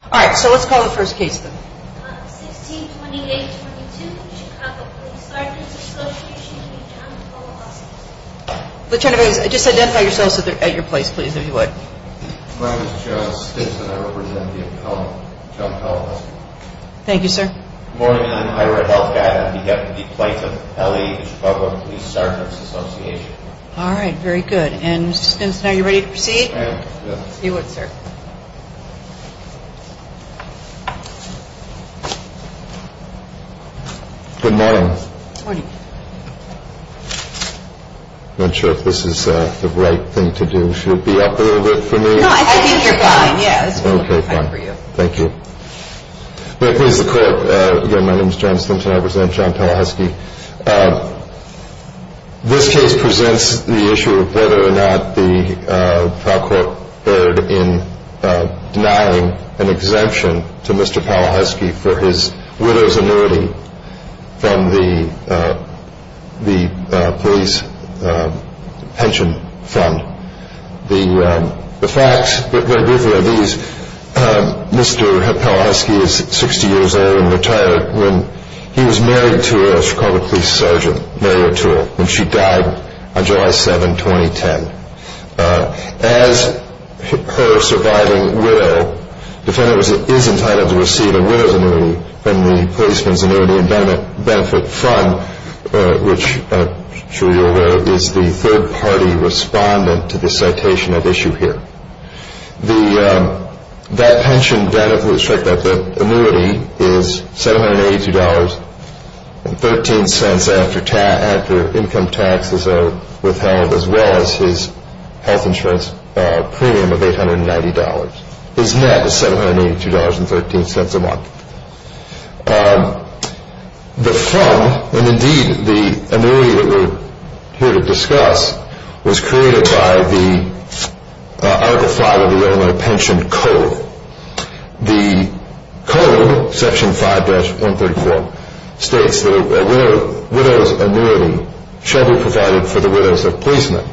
162822 Chicago Police Sergeants' Association v. John Pallohusky Morning. I'm Ira Helfgatt. I'm the Deputy Plaintiff, L.A. Chicago Police Sergeants' Association. Good morning. Morning. I'm not sure if this is the right thing to do. Should it be up a little bit for me? No, I think you're fine, yes. Okay, fine. Thank you. Let me introduce the court. Again, my name is John Stimson. I represent John Pallohusky. This case presents the issue of whether or not the trial court erred in denying an existing exemption to Mr. Pallohusky for his widow's annuity from the police pension fund. The facts, very briefly, are these. Mr. Pallohusky is 60 years old and retired. He was married to a Chicago police sergeant, Mary O'Toole, and she died on July 7, 2010. As her surviving widow, the defendant is entitled to receive a widow's annuity from the Policeman's Annuity and Benefit Fund, which, I'm sure you're aware, is the third-party respondent to the citation at issue here. That pension benefit, the annuity, is $782.13 after income tax is withheld, as well as his pension. His health insurance premium of $890 is met at $782.13 a month. The fund, and indeed the annuity that we're here to discuss, was created by the Article 5 of the Illinois Pension Code. The code, Section 5-134, states that a widow's annuity shall be provided for the widows of policemen.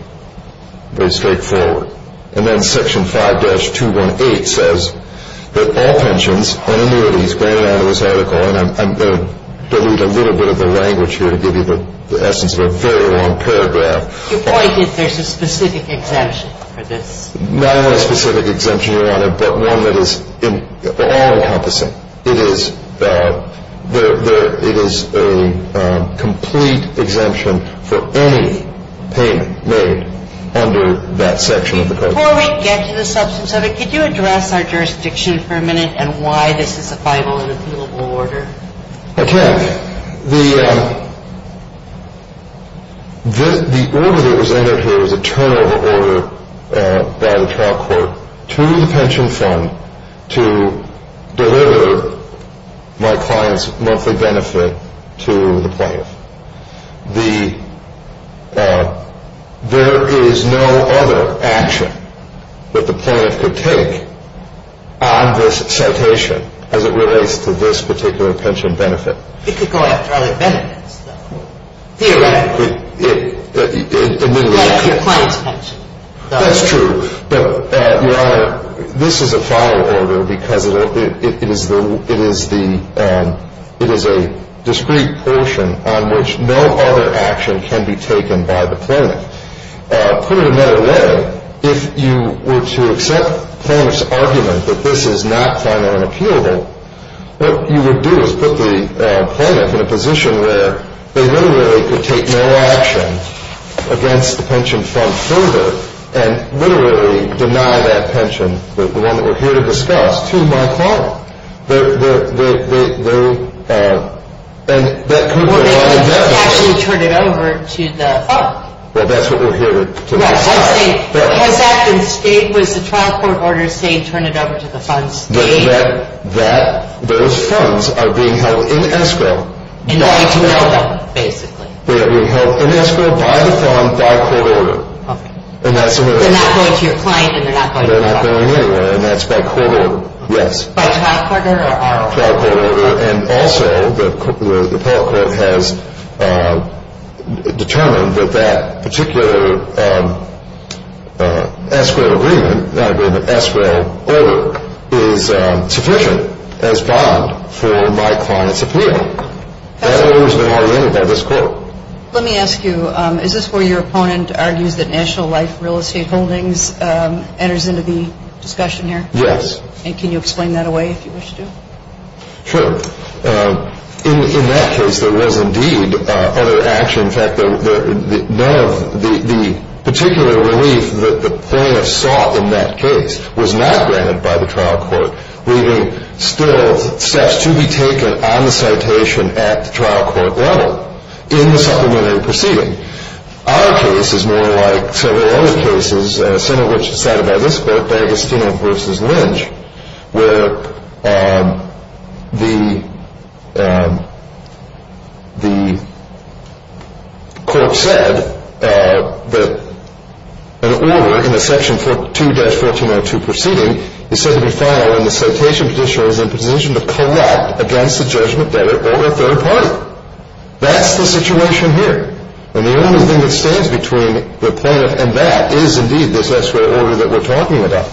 Very straightforward. And then Section 5-218 says that all pensions and annuities granted under this article, and I'm going to delete a little bit of the language here to give you the essence of a very long paragraph. You pointed, there's a specific exemption for this. Not only a specific exemption, Your Honor, but one that is all-encompassing. It is a complete exemption for any payment made under this article. Before we get to the substance of it, could you address our jurisdiction for a minute and why this is a final and appealable order? I can. The order that was entered here was a turnover order by the trial court to the pension fund to deliver my client's monthly benefit to the plaintiff. The, there is no other action that the plaintiff could take on this citation as it relates to this particular pension benefit. It could go after other benefits, though. Theoretically. But if your client's pension. That's true. But, Your Honor, this is a final order because it is the, it is the, it is a discrete portion on which no other action can be taken by the plaintiff. Put it another way, if you were to accept the plaintiff's argument that this is not final and appealable, what you would do is put the plaintiff in a position where they literally could take no action against the pension fund further and literally deny that pension, the one that we're here to discuss, to my client. They, they, they, they, they, and that could be a final benefit. Or they could actually turn it over to the fund. Well, that's what we're here to decide. Has that been stated? Was the trial court order saying turn it over to the fund? That those funds are being held in escrow. Basically. They're not going to your client, and they're not going anywhere, and that's by court order. Yes. And also, the appellate court has determined that that particular escrow agreement, not agreement, escrow order is sufficient as bond for my client's appeal. That order's been already entered by this court. Let me ask you, is this where your opponent argues that National Life Real Estate Holdings enters into the discussion here? Yes. And can you explain that away if you wish to? Sure. In that case, there was indeed other action. In fact, none of the particular relief that the plaintiffs sought in that case was not granted by the trial court, leaving still steps to be taken on the citation at the trial court level in the supplementary proceeding. Our case is more like several other cases, some of which are cited by this court, D'Agostino v. Linge, where the court said that an order in the Section 2-1402 proceeding is said to be filed and the citation petitioner is in a position to collect against the judgment debit of a third party. That's the situation here. And the only thing that stands between the plaintiff and that is indeed this escrow order that we're talking about.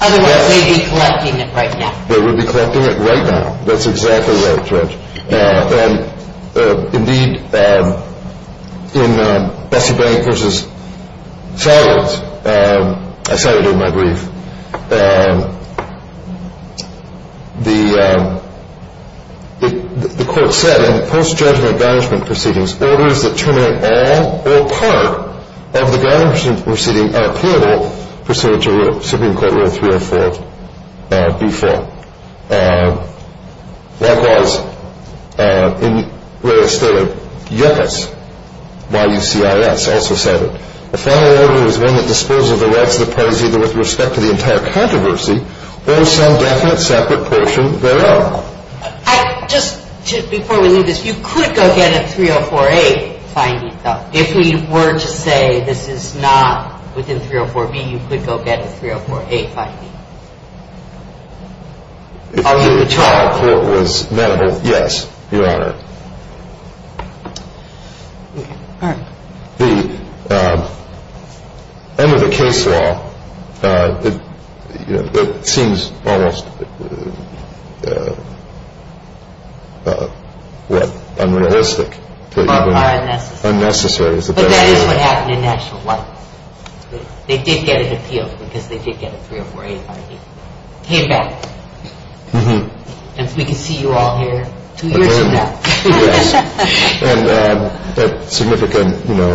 Otherwise, they'd be collecting it right now. They would be collecting it right now. That's exactly right, Judge. Indeed, in Bessey Blank v. Farrell's, I cited in my brief, the court said in post-judgment garnishment proceedings, orders that terminate all or part of the garnishment proceeding are payable pursuant to Supreme Court Rule 304-B-4. Likewise, in Ray's statement, yes, by UCIS, also cited, a final order is one that disposes of the rights of the parties either with respect to the entire controversy or some definite separate portion thereof. Just before we leave this, you could go get a 304-A finding, though. If we were to say this is not within 304-B, you could go get a 304-A finding. If the trial court was amenable, yes, Your Honor. The end of the case law, it seems almost unrealistic. Unnecessary. But that is what happened in actual life. They did get an appeal because they did get a 304-A finding. And we can see you all here two years from now. Yes, and at significant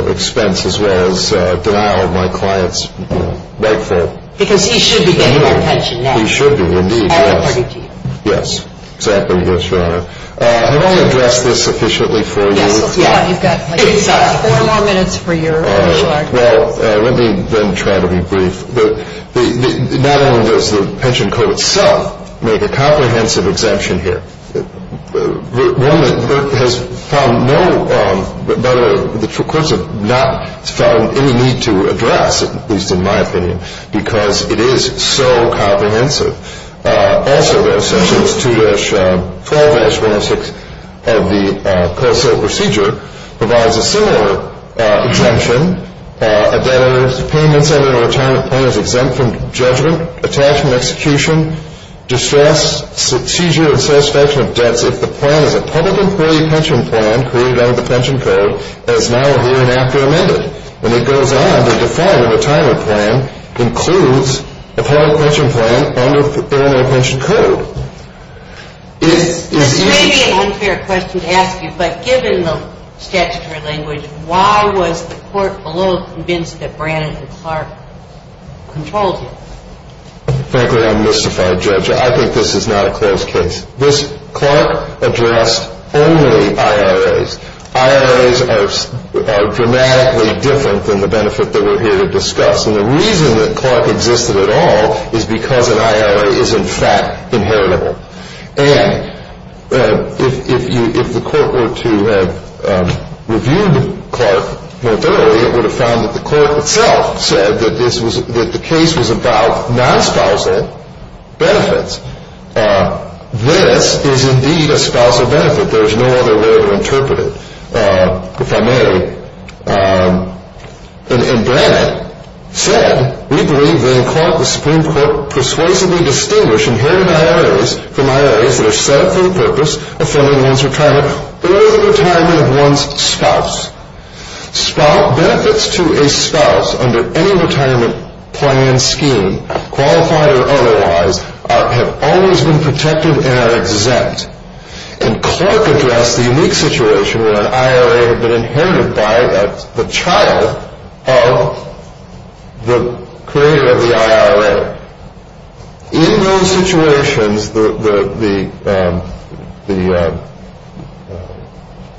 expense as well as denial of my client's rightful. Because he should be getting attention now. He should be, indeed. Yes, exactly, Your Honor. I've only addressed this sufficiently for you. Let me then try to be brief. Not only does the pension code itself make a comprehensive exemption here, one that has found no better, the courts have not found any need to address, at least in my opinion, because it is so comprehensive. Also, there are sections 2-12-106 of the COSO procedure provides a similar exemption. A debtor's payment under a retirement plan is exempt from judgment, attachment, execution, distress, seizure, and satisfaction of debts if the plan is a public and query pension plan created under the pension code as now, here, and after amended. And it goes on to define that a retirement plan includes a public pension plan under Illinois Pension Code. This may be an unfair question to ask you, but given the statutory language, why was the court below convinced that Brannan and Clark controlled him? Frankly, I'm mystified, Judge. I think this is not a closed case. Clark addressed only IRAs. IRAs are dramatically different than the benefit that we're here to discuss. And the reason that Clark existed at all is because an IRA is, in fact, inheritable. And if the court were to have reviewed Clark more thoroughly, it would have found that the court itself said that the case was about non-spousal benefits. This is indeed a spousal benefit. There is no other way to interpret it, if I may. And Brannan said, Benefits to a spouse under any retirement plan scheme, qualified or otherwise, have always been protected and are exempt. And Clark addressed the unique situation where an IRA had been inherited by the child of the creator of the IRA. In those situations, the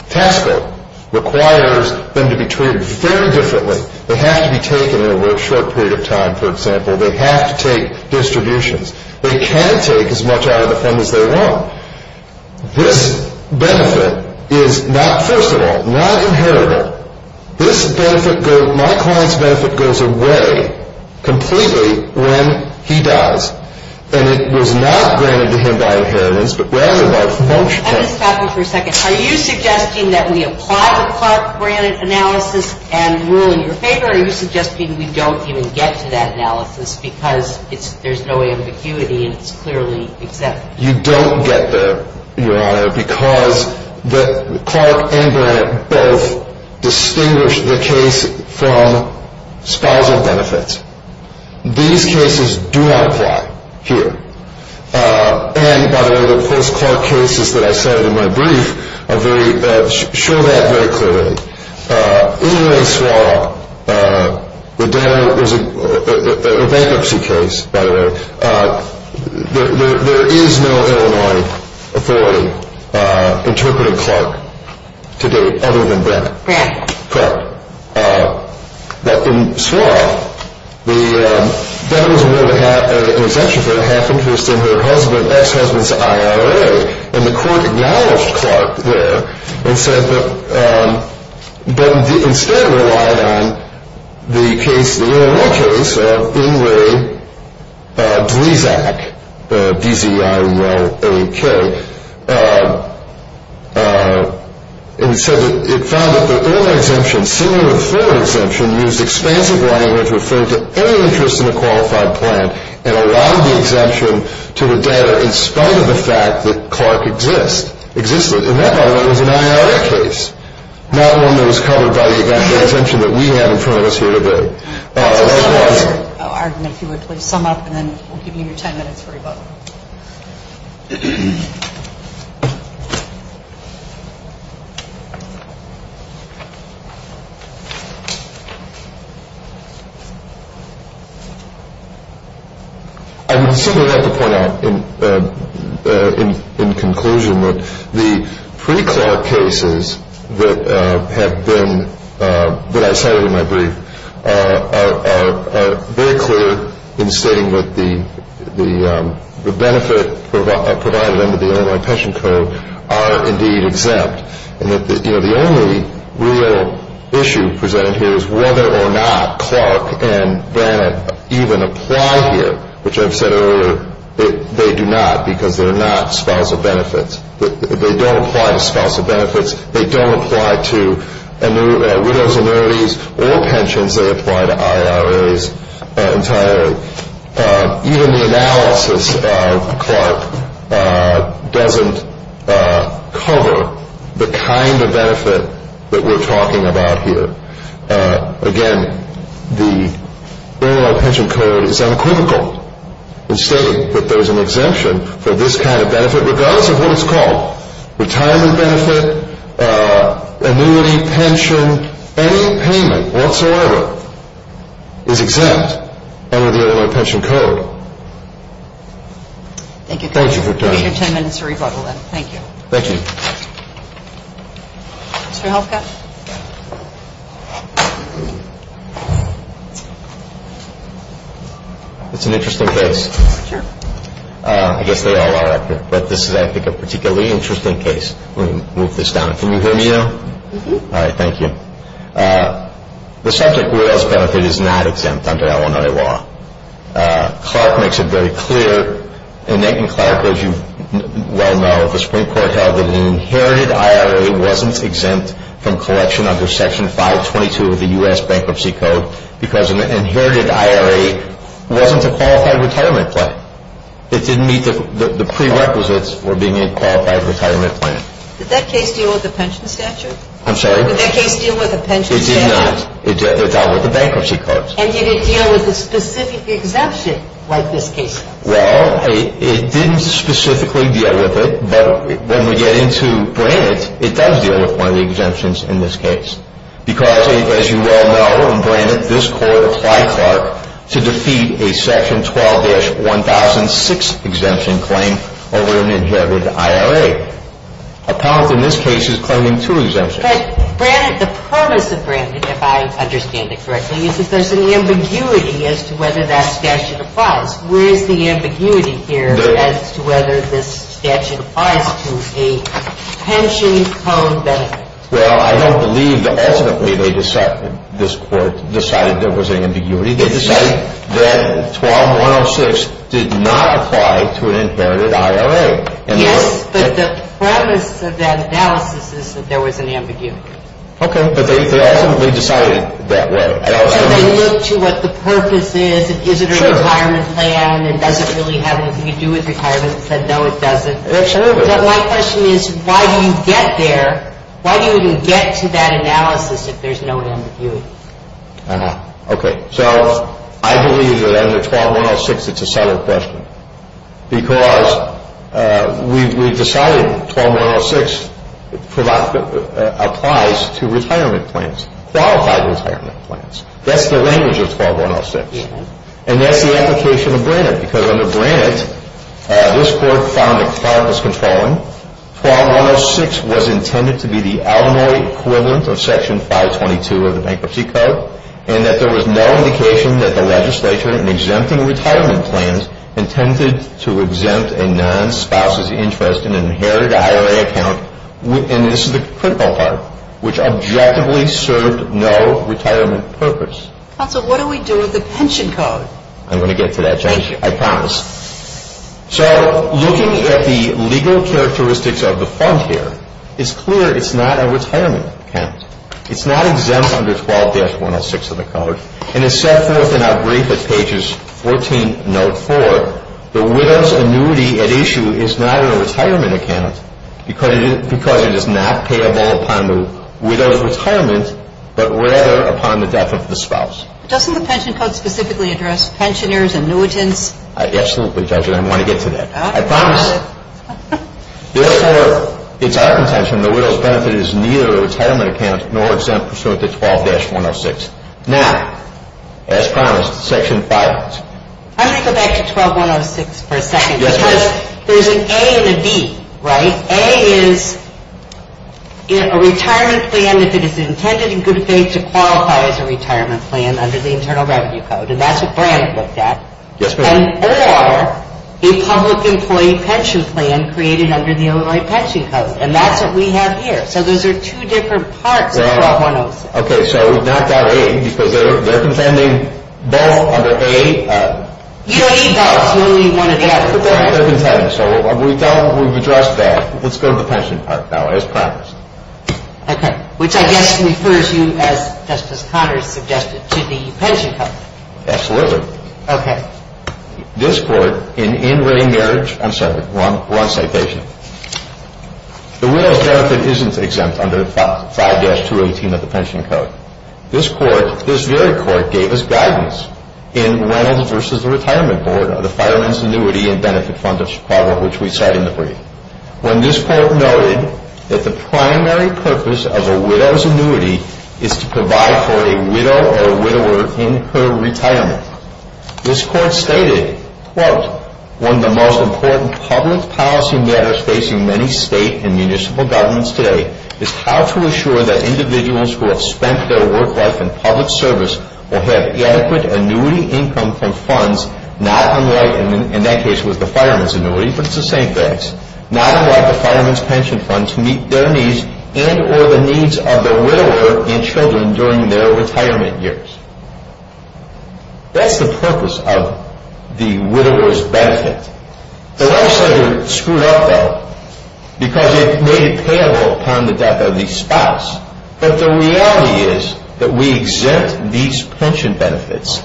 tax code requires them to be treated very differently. They have to be taken over a short period of time, for example. They have to take distributions. They can take as much out of the fund as they want. This benefit is not, first of all, not inheritable. My client's benefit goes away completely when he dies. And it was not granted to him by inheritance, but rather by function. Are you suggesting that we apply the Clark-Brannan analysis and rule in your favor, or are you suggesting we don't even get to that analysis because there's no ambiguity and it's clearly exempt? You don't get there, Your Honor, because Clark and Brannan both distinguish the case from spousal benefits. These cases do not apply here. And, by the way, the post-Clark cases that I cited in my brief show that very clearly. In Illinois Swa, the bankruptcy case, by the way, there is no Illinois authority interpreting Clark to date other than Brannan. But in Swa, that was an exemption for the half-interest in her ex-husband's IRA. And the court acknowledged Clark there and said that, but instead relied on the case, the Illinois case of Ingray-Blizak, B-Z-I-R-L-A-K. And it said that it found that the early exemption, similar to the forward exemption, used expansive language referring to any interest in the qualified plan and allowed the exemption to adhere in spite of the fact that Clark existed. And that, by the way, was an IRA case, not one that was covered by the exemption that we have in front of us here today. I would simply like to point out in conclusion that the pre-Clark cases that I cited in my brief, are very clear in stating that the benefit provided under the Illinois Pension Code are indeed exempt. And that the only real issue presented here is whether or not Clark and Brannan even apply here, which I've said earlier, they do not because they're not spousal benefits. They don't apply to spousal benefits. They don't apply to widow's annuities or pensions. They apply to IRAs entirely. Even the analysis of Clark doesn't cover the kind of benefit that we're talking about here. Again, the Illinois Pension Code is uncritical in stating that there's an exemption for this kind of benefit regardless of what it's called. Retirement benefit, annuity, pension, any payment whatsoever is exempt under the Illinois Pension Code. Thank you for your time. Give me your 10 minutes to rebuttal then. Thank you. Thank you. Mr. Helfka? It's an interesting case. I guess they all are. But this is, I think, a particularly interesting case. Let me move this down. Can you hear me now? Alright, thank you. The subject of widow's benefit is not exempt under Illinois law. Clark makes it very clear. The Supreme Court held that an inherited IRA wasn't exempt from collection under Section 522 of the U.S. Bankruptcy Code because an inherited IRA wasn't a qualified retirement plan. It didn't meet the prerequisites for being a qualified retirement plan. Did that case deal with the pension statute? I'm sorry? Did that case deal with the pension statute? It did not. It dealt with the bankruptcy codes. And did it deal with a specific exemption like this case? Well, it didn't specifically deal with it, but when we get into Brannett, it does deal with one of the exemptions in this case because, as you well know, in Brannett, this court applied Clark to defeat a Section 12-1006 exemption claim over an inherited IRA. Appellant in this case is claiming two exemptions. But Brannett, the premise of Brannett, if I understand it correctly, is that there's an ambiguity as to whether that statute applies. Where is the ambiguity here as to whether this statute applies to a pension home benefit? Well, I don't believe that ultimately this court decided there was an ambiguity. We did decide that 12-106 did not apply to an inherited IRA. Yes, but the premise of that analysis is that there was an ambiguity. Okay, but they ultimately decided that way. So they looked to what the purpose is. Is it a retirement plan? Does it really have anything to do with retirement? They said, no, it doesn't. But my question is, why do you get there? Okay, so I believe that under 12-106 it's a subtle question because we've decided 12-106 applies to retirement plans, qualified retirement plans. That's the language of 12-106. And that's the application of Brannett. Because under Brannett, this court found that Clark was controlling. 12-106 was intended to be the alimony equivalent of Section 522 of the Bankruptcy Code and that there was no indication that the legislature in exempting retirement plans intended to exempt a non-spouse's interest in an inherited IRA account. And this is the critical part, which objectively served no retirement purpose. Counsel, what do we do with the pension code? I'm going to get to that. I promise. So looking at the legal characteristics of the fund here, it's clear it's not a retirement account. It's not exempt under 12-106 of the code. And as set forth in our brief at pages 14, note 4, the widow's annuity at issue is not a retirement account because it is not payable upon the widow's retirement, but rather upon the death of the spouse. Doesn't the pension code specifically address pensioners, annuitants? Absolutely, Judge, and I want to get to that. I promise. Therefore, it's our intention the widow's benefit is neither a retirement account nor exempt pursuant to 12-106. Now, as promised, Section 5. I'm going to go back to 12-106 for a second because there's an A and a B, right? A is a retirement plan if it is intended in good faith to qualify as a retirement plan under the Internal Revenue Code, and that's what Brandt looked at. And OR a public employee pension plan created under the Illinois Pension Code, and that's what we have here. So those are two different parts of 12-106. Okay, so we've knocked out A because they're contending both under A. You don't need both. You only need one or the other. That's what they're contending, so we've addressed that. Let's go to the pension part now, as promised. Okay, which I guess refers you, as Justice Connors suggested, to the pension code. Absolutely. Okay. This Court, in in-ring marriage—I'm sorry, wrong citation. The widow's benefit isn't exempt under 5-218 of the pension code. This Court, this very Court, gave us guidance in Reynolds v. The Retirement Board of the Fireman's Annuity and Benefit Fund of Chicago, which we cite in the brief. When this Court noted that the primary purpose of a widow's annuity is to provide for a widow or a widower in her retirement, this Court stated, quote, One of the most important public policy matters facing many state and municipal governments today is how to assure that individuals who have spent their work life in public service will have adequate annuity income from funds not unlike—in that case, it was the fireman's annuity, but it's the same things— not unlike the fireman's pension fund to meet their needs and or the needs of the widower and children during their retirement years. That's the purpose of the widower's benefit. The life center screwed up, though, because it made it payable upon the death of the spouse. But the reality is that we exempt these pension benefits,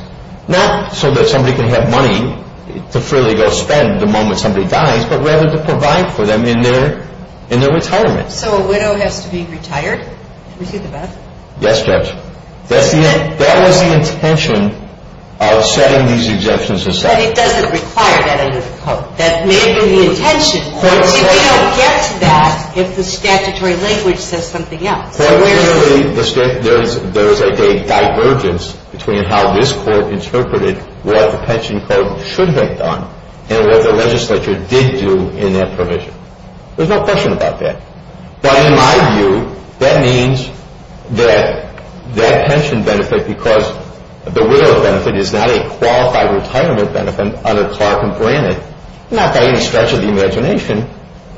not so that somebody can have money to freely go spend the moment somebody dies, but rather to provide for them in their retirement. So a widow has to be retired to receive the benefit? Yes, Judge. That was the intention of setting these exemptions aside. But it doesn't require that under the Code. That may be the intention, but you don't get to that if the statutory language says something else. Well, clearly, there is a divergence between how this Court interpreted what the pension code should have done and what the legislature did do in that provision. There's no question about that. But in my view, that means that that pension benefit, because the widower benefit is not a qualified retirement benefit under Clark and Brannan, not by any stretch of the imagination,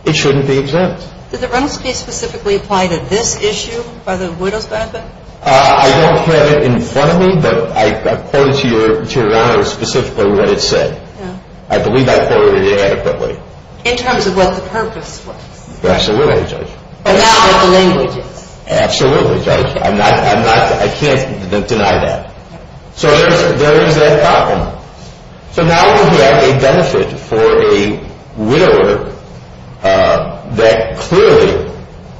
it shouldn't be exempt. Did the Reynolds case specifically apply to this issue by the widower's benefit? I don't have it in front of me, but I quoted to Your Honor specifically what it said. I believe I quoted it adequately. In terms of what the purpose was? Absolutely, Judge. But not what the language is? Absolutely, Judge. I can't deny that. So there is that problem. So now we have a benefit for a widower that clearly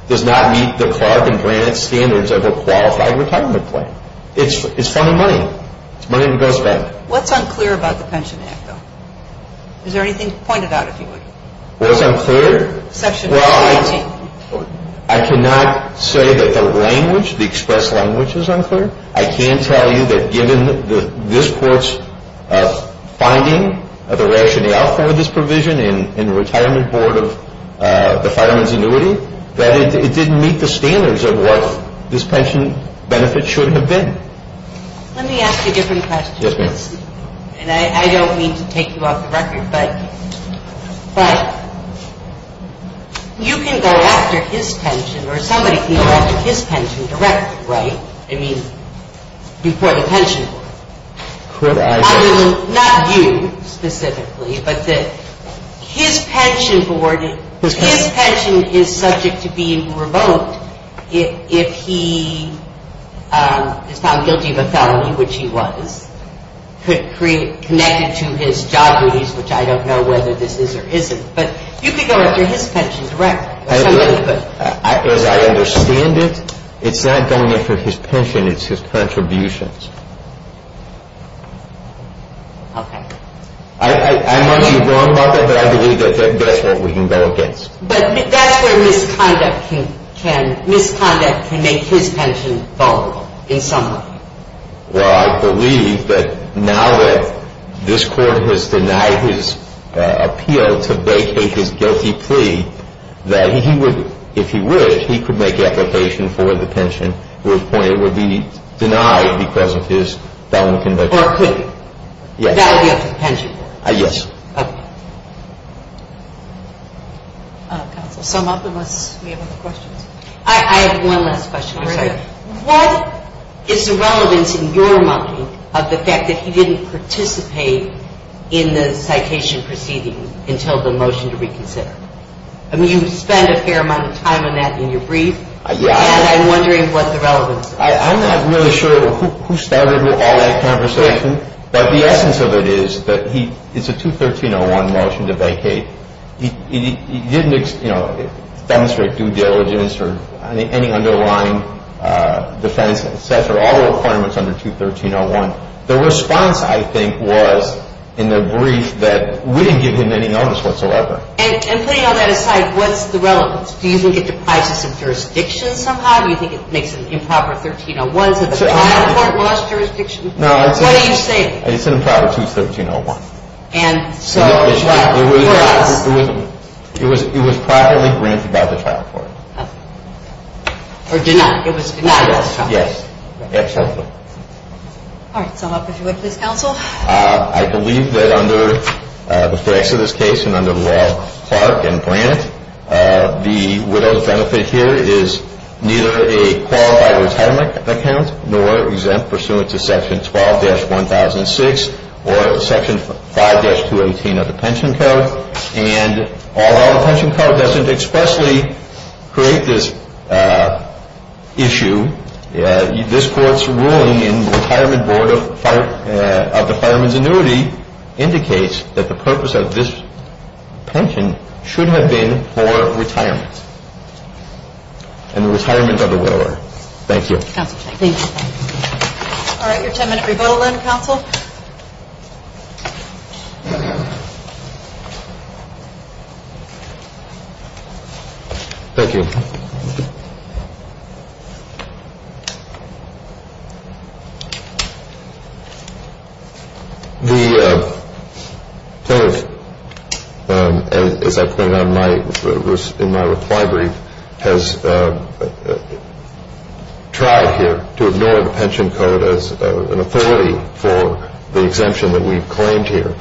does not meet the Clark and Brannan standards of a qualified retirement plan. It's funding money. It's money to go spend. What's unclear about the Pension Act, though? Is there anything pointed out, if you would? What's unclear? Well, I cannot say that the language, the expressed language is unclear. I can tell you that given this Court's finding of the rationale for this provision in the Retirement Board of the Fireman's Annuity, that it didn't meet the standards of what this pension benefit should have been. Let me ask you a different question. Yes, ma'am. And I don't mean to take you off the record, but you can go after his pension or somebody can go after his pension directly, right? I mean, before the pension board. Correct. Not you specifically, but that his pension board, his pension is subject to being revoked if he is found guilty of a felony, which he was connected to his job duties, which I don't know whether this is or isn't. But you can go after his pension directly. As I understand it, it's not going after his pension, it's his contributions. Okay. I might be wrong about that, but I believe that that's what we can go against. But that's where misconduct can make his pension vulnerable in some way. Well, I believe that now that this court has denied his appeal to vacate his guilty plea, that he would, if he wished, he could make application for the pension, but it would be denied because of his felony conviction. Or could he? Yes. That would be up to the pension board. Yes. Okay. Counsel, sum up unless we have other questions. I have one last question. Go ahead. What is the relevance in your mind of the fact that he didn't participate in the citation proceeding until the motion to reconsider? I mean, you spent a fair amount of time on that in your brief, and I'm wondering what the relevance is. I'm not really sure who started all that conversation, but the essence of it is that it's a 213-01 motion to vacate. He didn't, you know, demonstrate due diligence or any underlying defense, et cetera, all the requirements under 213-01. The response, I think, was in the brief that we didn't give him any notice whatsoever. And putting all that aside, what's the relevance? Do you think it deprives us of jurisdiction somehow? Do you think it makes an improper 1301 to the final court lost jurisdiction? No. What do you say? It's an improper 213-01. No, it's not. It was properly granted by the trial court. Oh. Or denied. It was denied by the trial court. Denied, yes. Yes. Absolutely. All right. So help us with this, counsel. I believe that under the facts of this case and under the law of Clark and Brandt, the widow's benefit here is neither a qualified retirement account nor exempt pursuant to Section 12-1006 or Section 5-218 of the pension code. And although the pension code doesn't expressly create this issue, this court's ruling in the retirement board of the fireman's annuity indicates that the purpose of this pension should have been for retirement and the retirement of the widower. Thank you. Thank you. All right. Your ten-minute rebuttal, then, counsel. Thank you. Thank you. The plaintiff, as I pointed out in my reply brief, has tried here to ignore the pension code as an authority for the exemption that we've claimed here,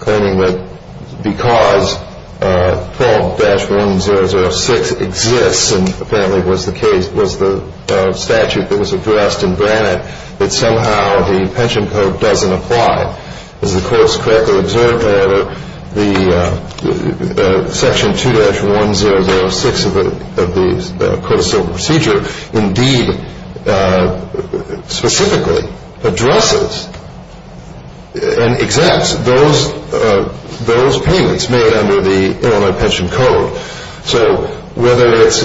claiming that because 12-1006 exists and apparently was the case, was the statute that was addressed in Brandt, that somehow the pension code doesn't apply. As the court has correctly observed, however, the Section 2-1006 of the court of civil procedure indeed specifically addresses and exempts those payments made under the Illinois pension code. So whether it's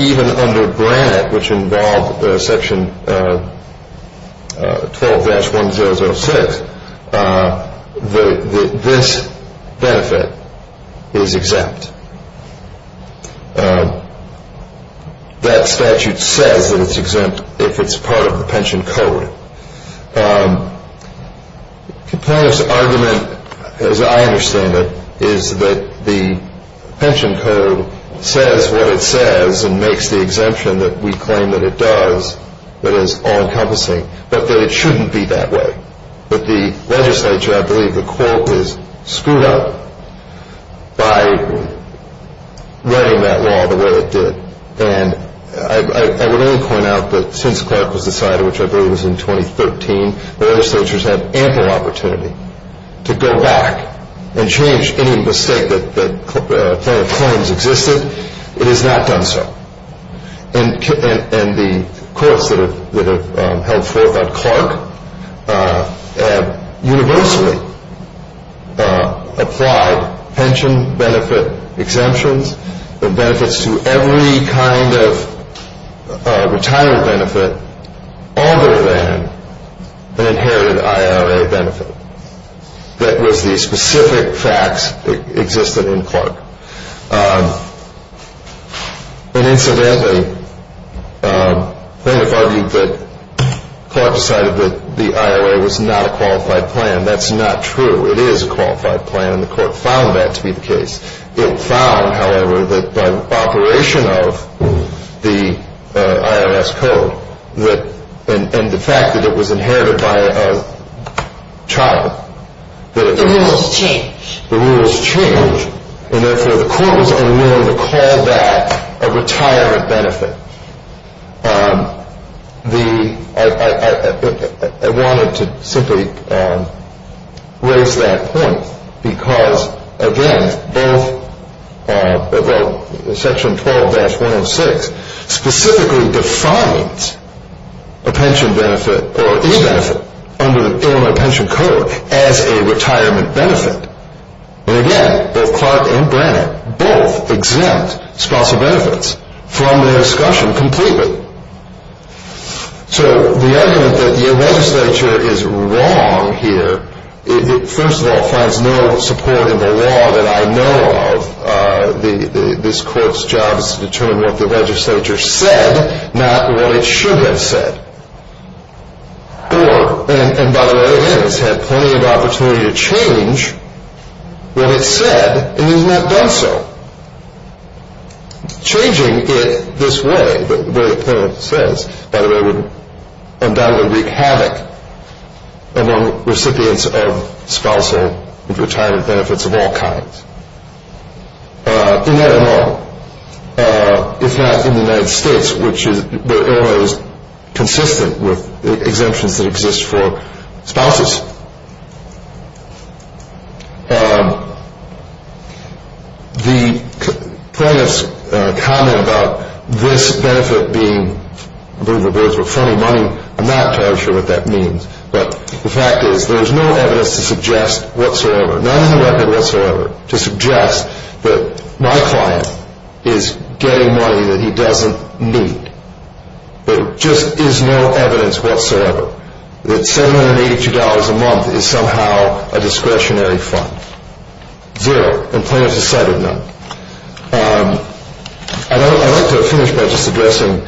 even under Brandt, which involved Section 12-1006, this benefit is exempt. That statute says that it's exempt if it's part of the pension code. The plaintiff's argument, as I understand it, is that the pension code says what it says and makes the exemption that we claim that it does, that is all-encompassing, but that it shouldn't be that way. But the legislature, I believe, the court has screwed up by writing that law the way it did. And I would only point out that since Clark was decided, which I believe was in 2013, the legislatures had ample opportunity to go back and change any mistake that claims existed. It has not done so. And the courts that have held forth on Clark universally applied pension benefit exemptions and benefits to every kind of retired benefit other than an inherited IRA benefit. That was the specific facts that existed in Clark. And incidentally, the plaintiff argued that Clark decided that the IRA was not a qualified plan. That's not true. It is a qualified plan, and the court found that to be the case. It found, however, that by operation of the IRS code, and the fact that it was inherited by a child, that it could be changed. The rules change, and therefore the court was unwilling to call that a retirement benefit. I wanted to simply raise that point because, again, both Section 12-106 specifically defines a pension benefit or any benefit under the Illinois Pension Code as a retirement benefit. And again, both Clark and Brannan both exempt spousal benefits from their discussion completely. So the argument that the legislature is wrong here, first of all, finds no support in the law that I know of. This court's job is to determine what the legislature said, not what it should have said. And by the way, it has had plenty of opportunity to change what it said, and it has not done so. Changing it this way, where it says, by the way, undoubtedly would wreak havoc among recipients of spousal retirement benefits of all kinds. In that law, if not in the United States, which is, the Illinois is consistent with exemptions that exist for spouses. The plaintiff's comment about this benefit being, I believe it was, but funny money, I'm not entirely sure what that means. But the fact is, there is no evidence to suggest whatsoever, none in the record whatsoever, to suggest that my client is getting money that he doesn't need. There just is no evidence whatsoever that $782 a month is somehow a discretionary fund. Zero. And plaintiff has cited none. I'd like to finish by just addressing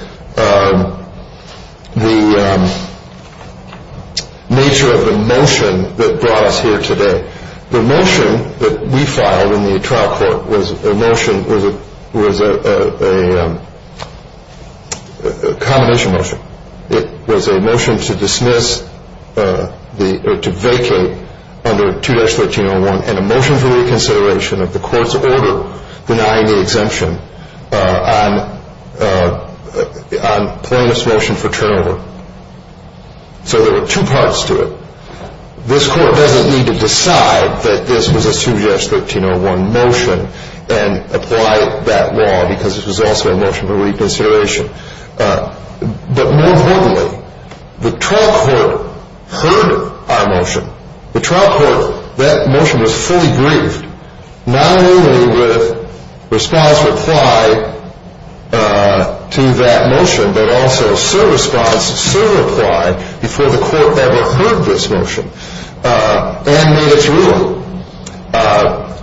the nature of the motion that brought us here today. The motion that we filed in the trial court was a motion, was a combination motion. It was a motion to dismiss, to vacate under 2-1301 and a motion for reconsideration of the court's order denying the exemption on plaintiff's motion for turnover. So there were two parts to it. This court doesn't need to decide that this was a 2-1301 motion and apply that law because it was also a motion for reconsideration. But more importantly, the trial court heard our motion. The trial court, that motion was fully briefed, not only with response or reply to that motion, but also serve response, serve reply before the court ever heard this motion and made its ruling.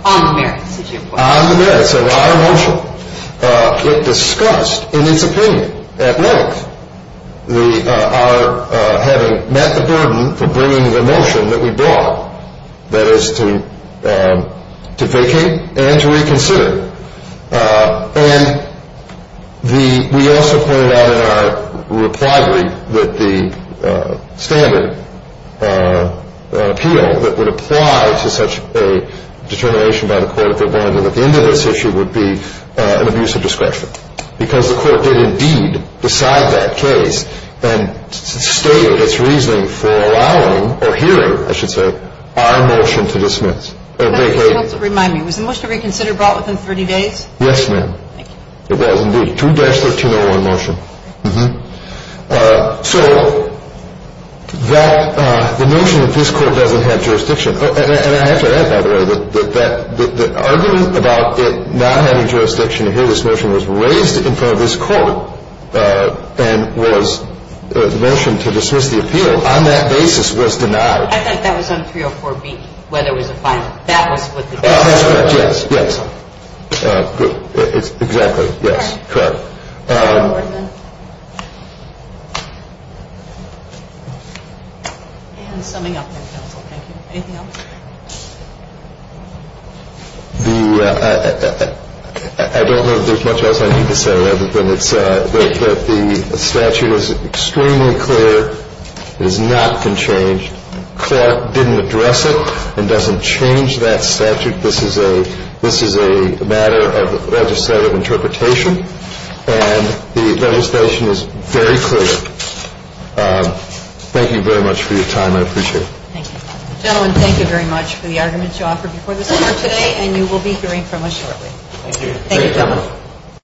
On the merits of your motion. On the merits of our motion. It discussed in its opinion at length our having met the burden for bringing the motion that we brought, that is to vacate and to reconsider. And we also pointed out in our reply brief that the standard appeal that would apply to such a determination by the court if it wanted to look into this issue would be an abuse of discretion. Because the court did indeed decide that case and stated its reasoning for allowing or hearing, I should say, our motion to dismiss. But I just want to remind me, was the motion to reconsider brought within 30 days? Yes, ma'am. Thank you. It was indeed. 2-1301 motion. Mm-hmm. So the notion that this court doesn't have jurisdiction, and I have to add, by the way, that the argument about it not having jurisdiction to hear this motion was raised in front of this court and was the motion to dismiss the appeal on that basis was denied. I think that was on 304B, where there was a fine. That was what the case was. That's correct. Yes. Yes. Exactly. Yes. Correct. And summing up, counsel, thank you. Anything else? I don't know if there's much else I need to say other than it's that the statute is extremely clear. It is not conchanged. Court didn't address it and doesn't change that statute. This is a matter of legislative interpretation, and the legislation is very clear. Thank you very much for your time. I appreciate it. Thank you. Gentlemen, thank you very much for the arguments you offered before this court today, and you will be hearing from us shortly. Thank you. Thank you, gentlemen.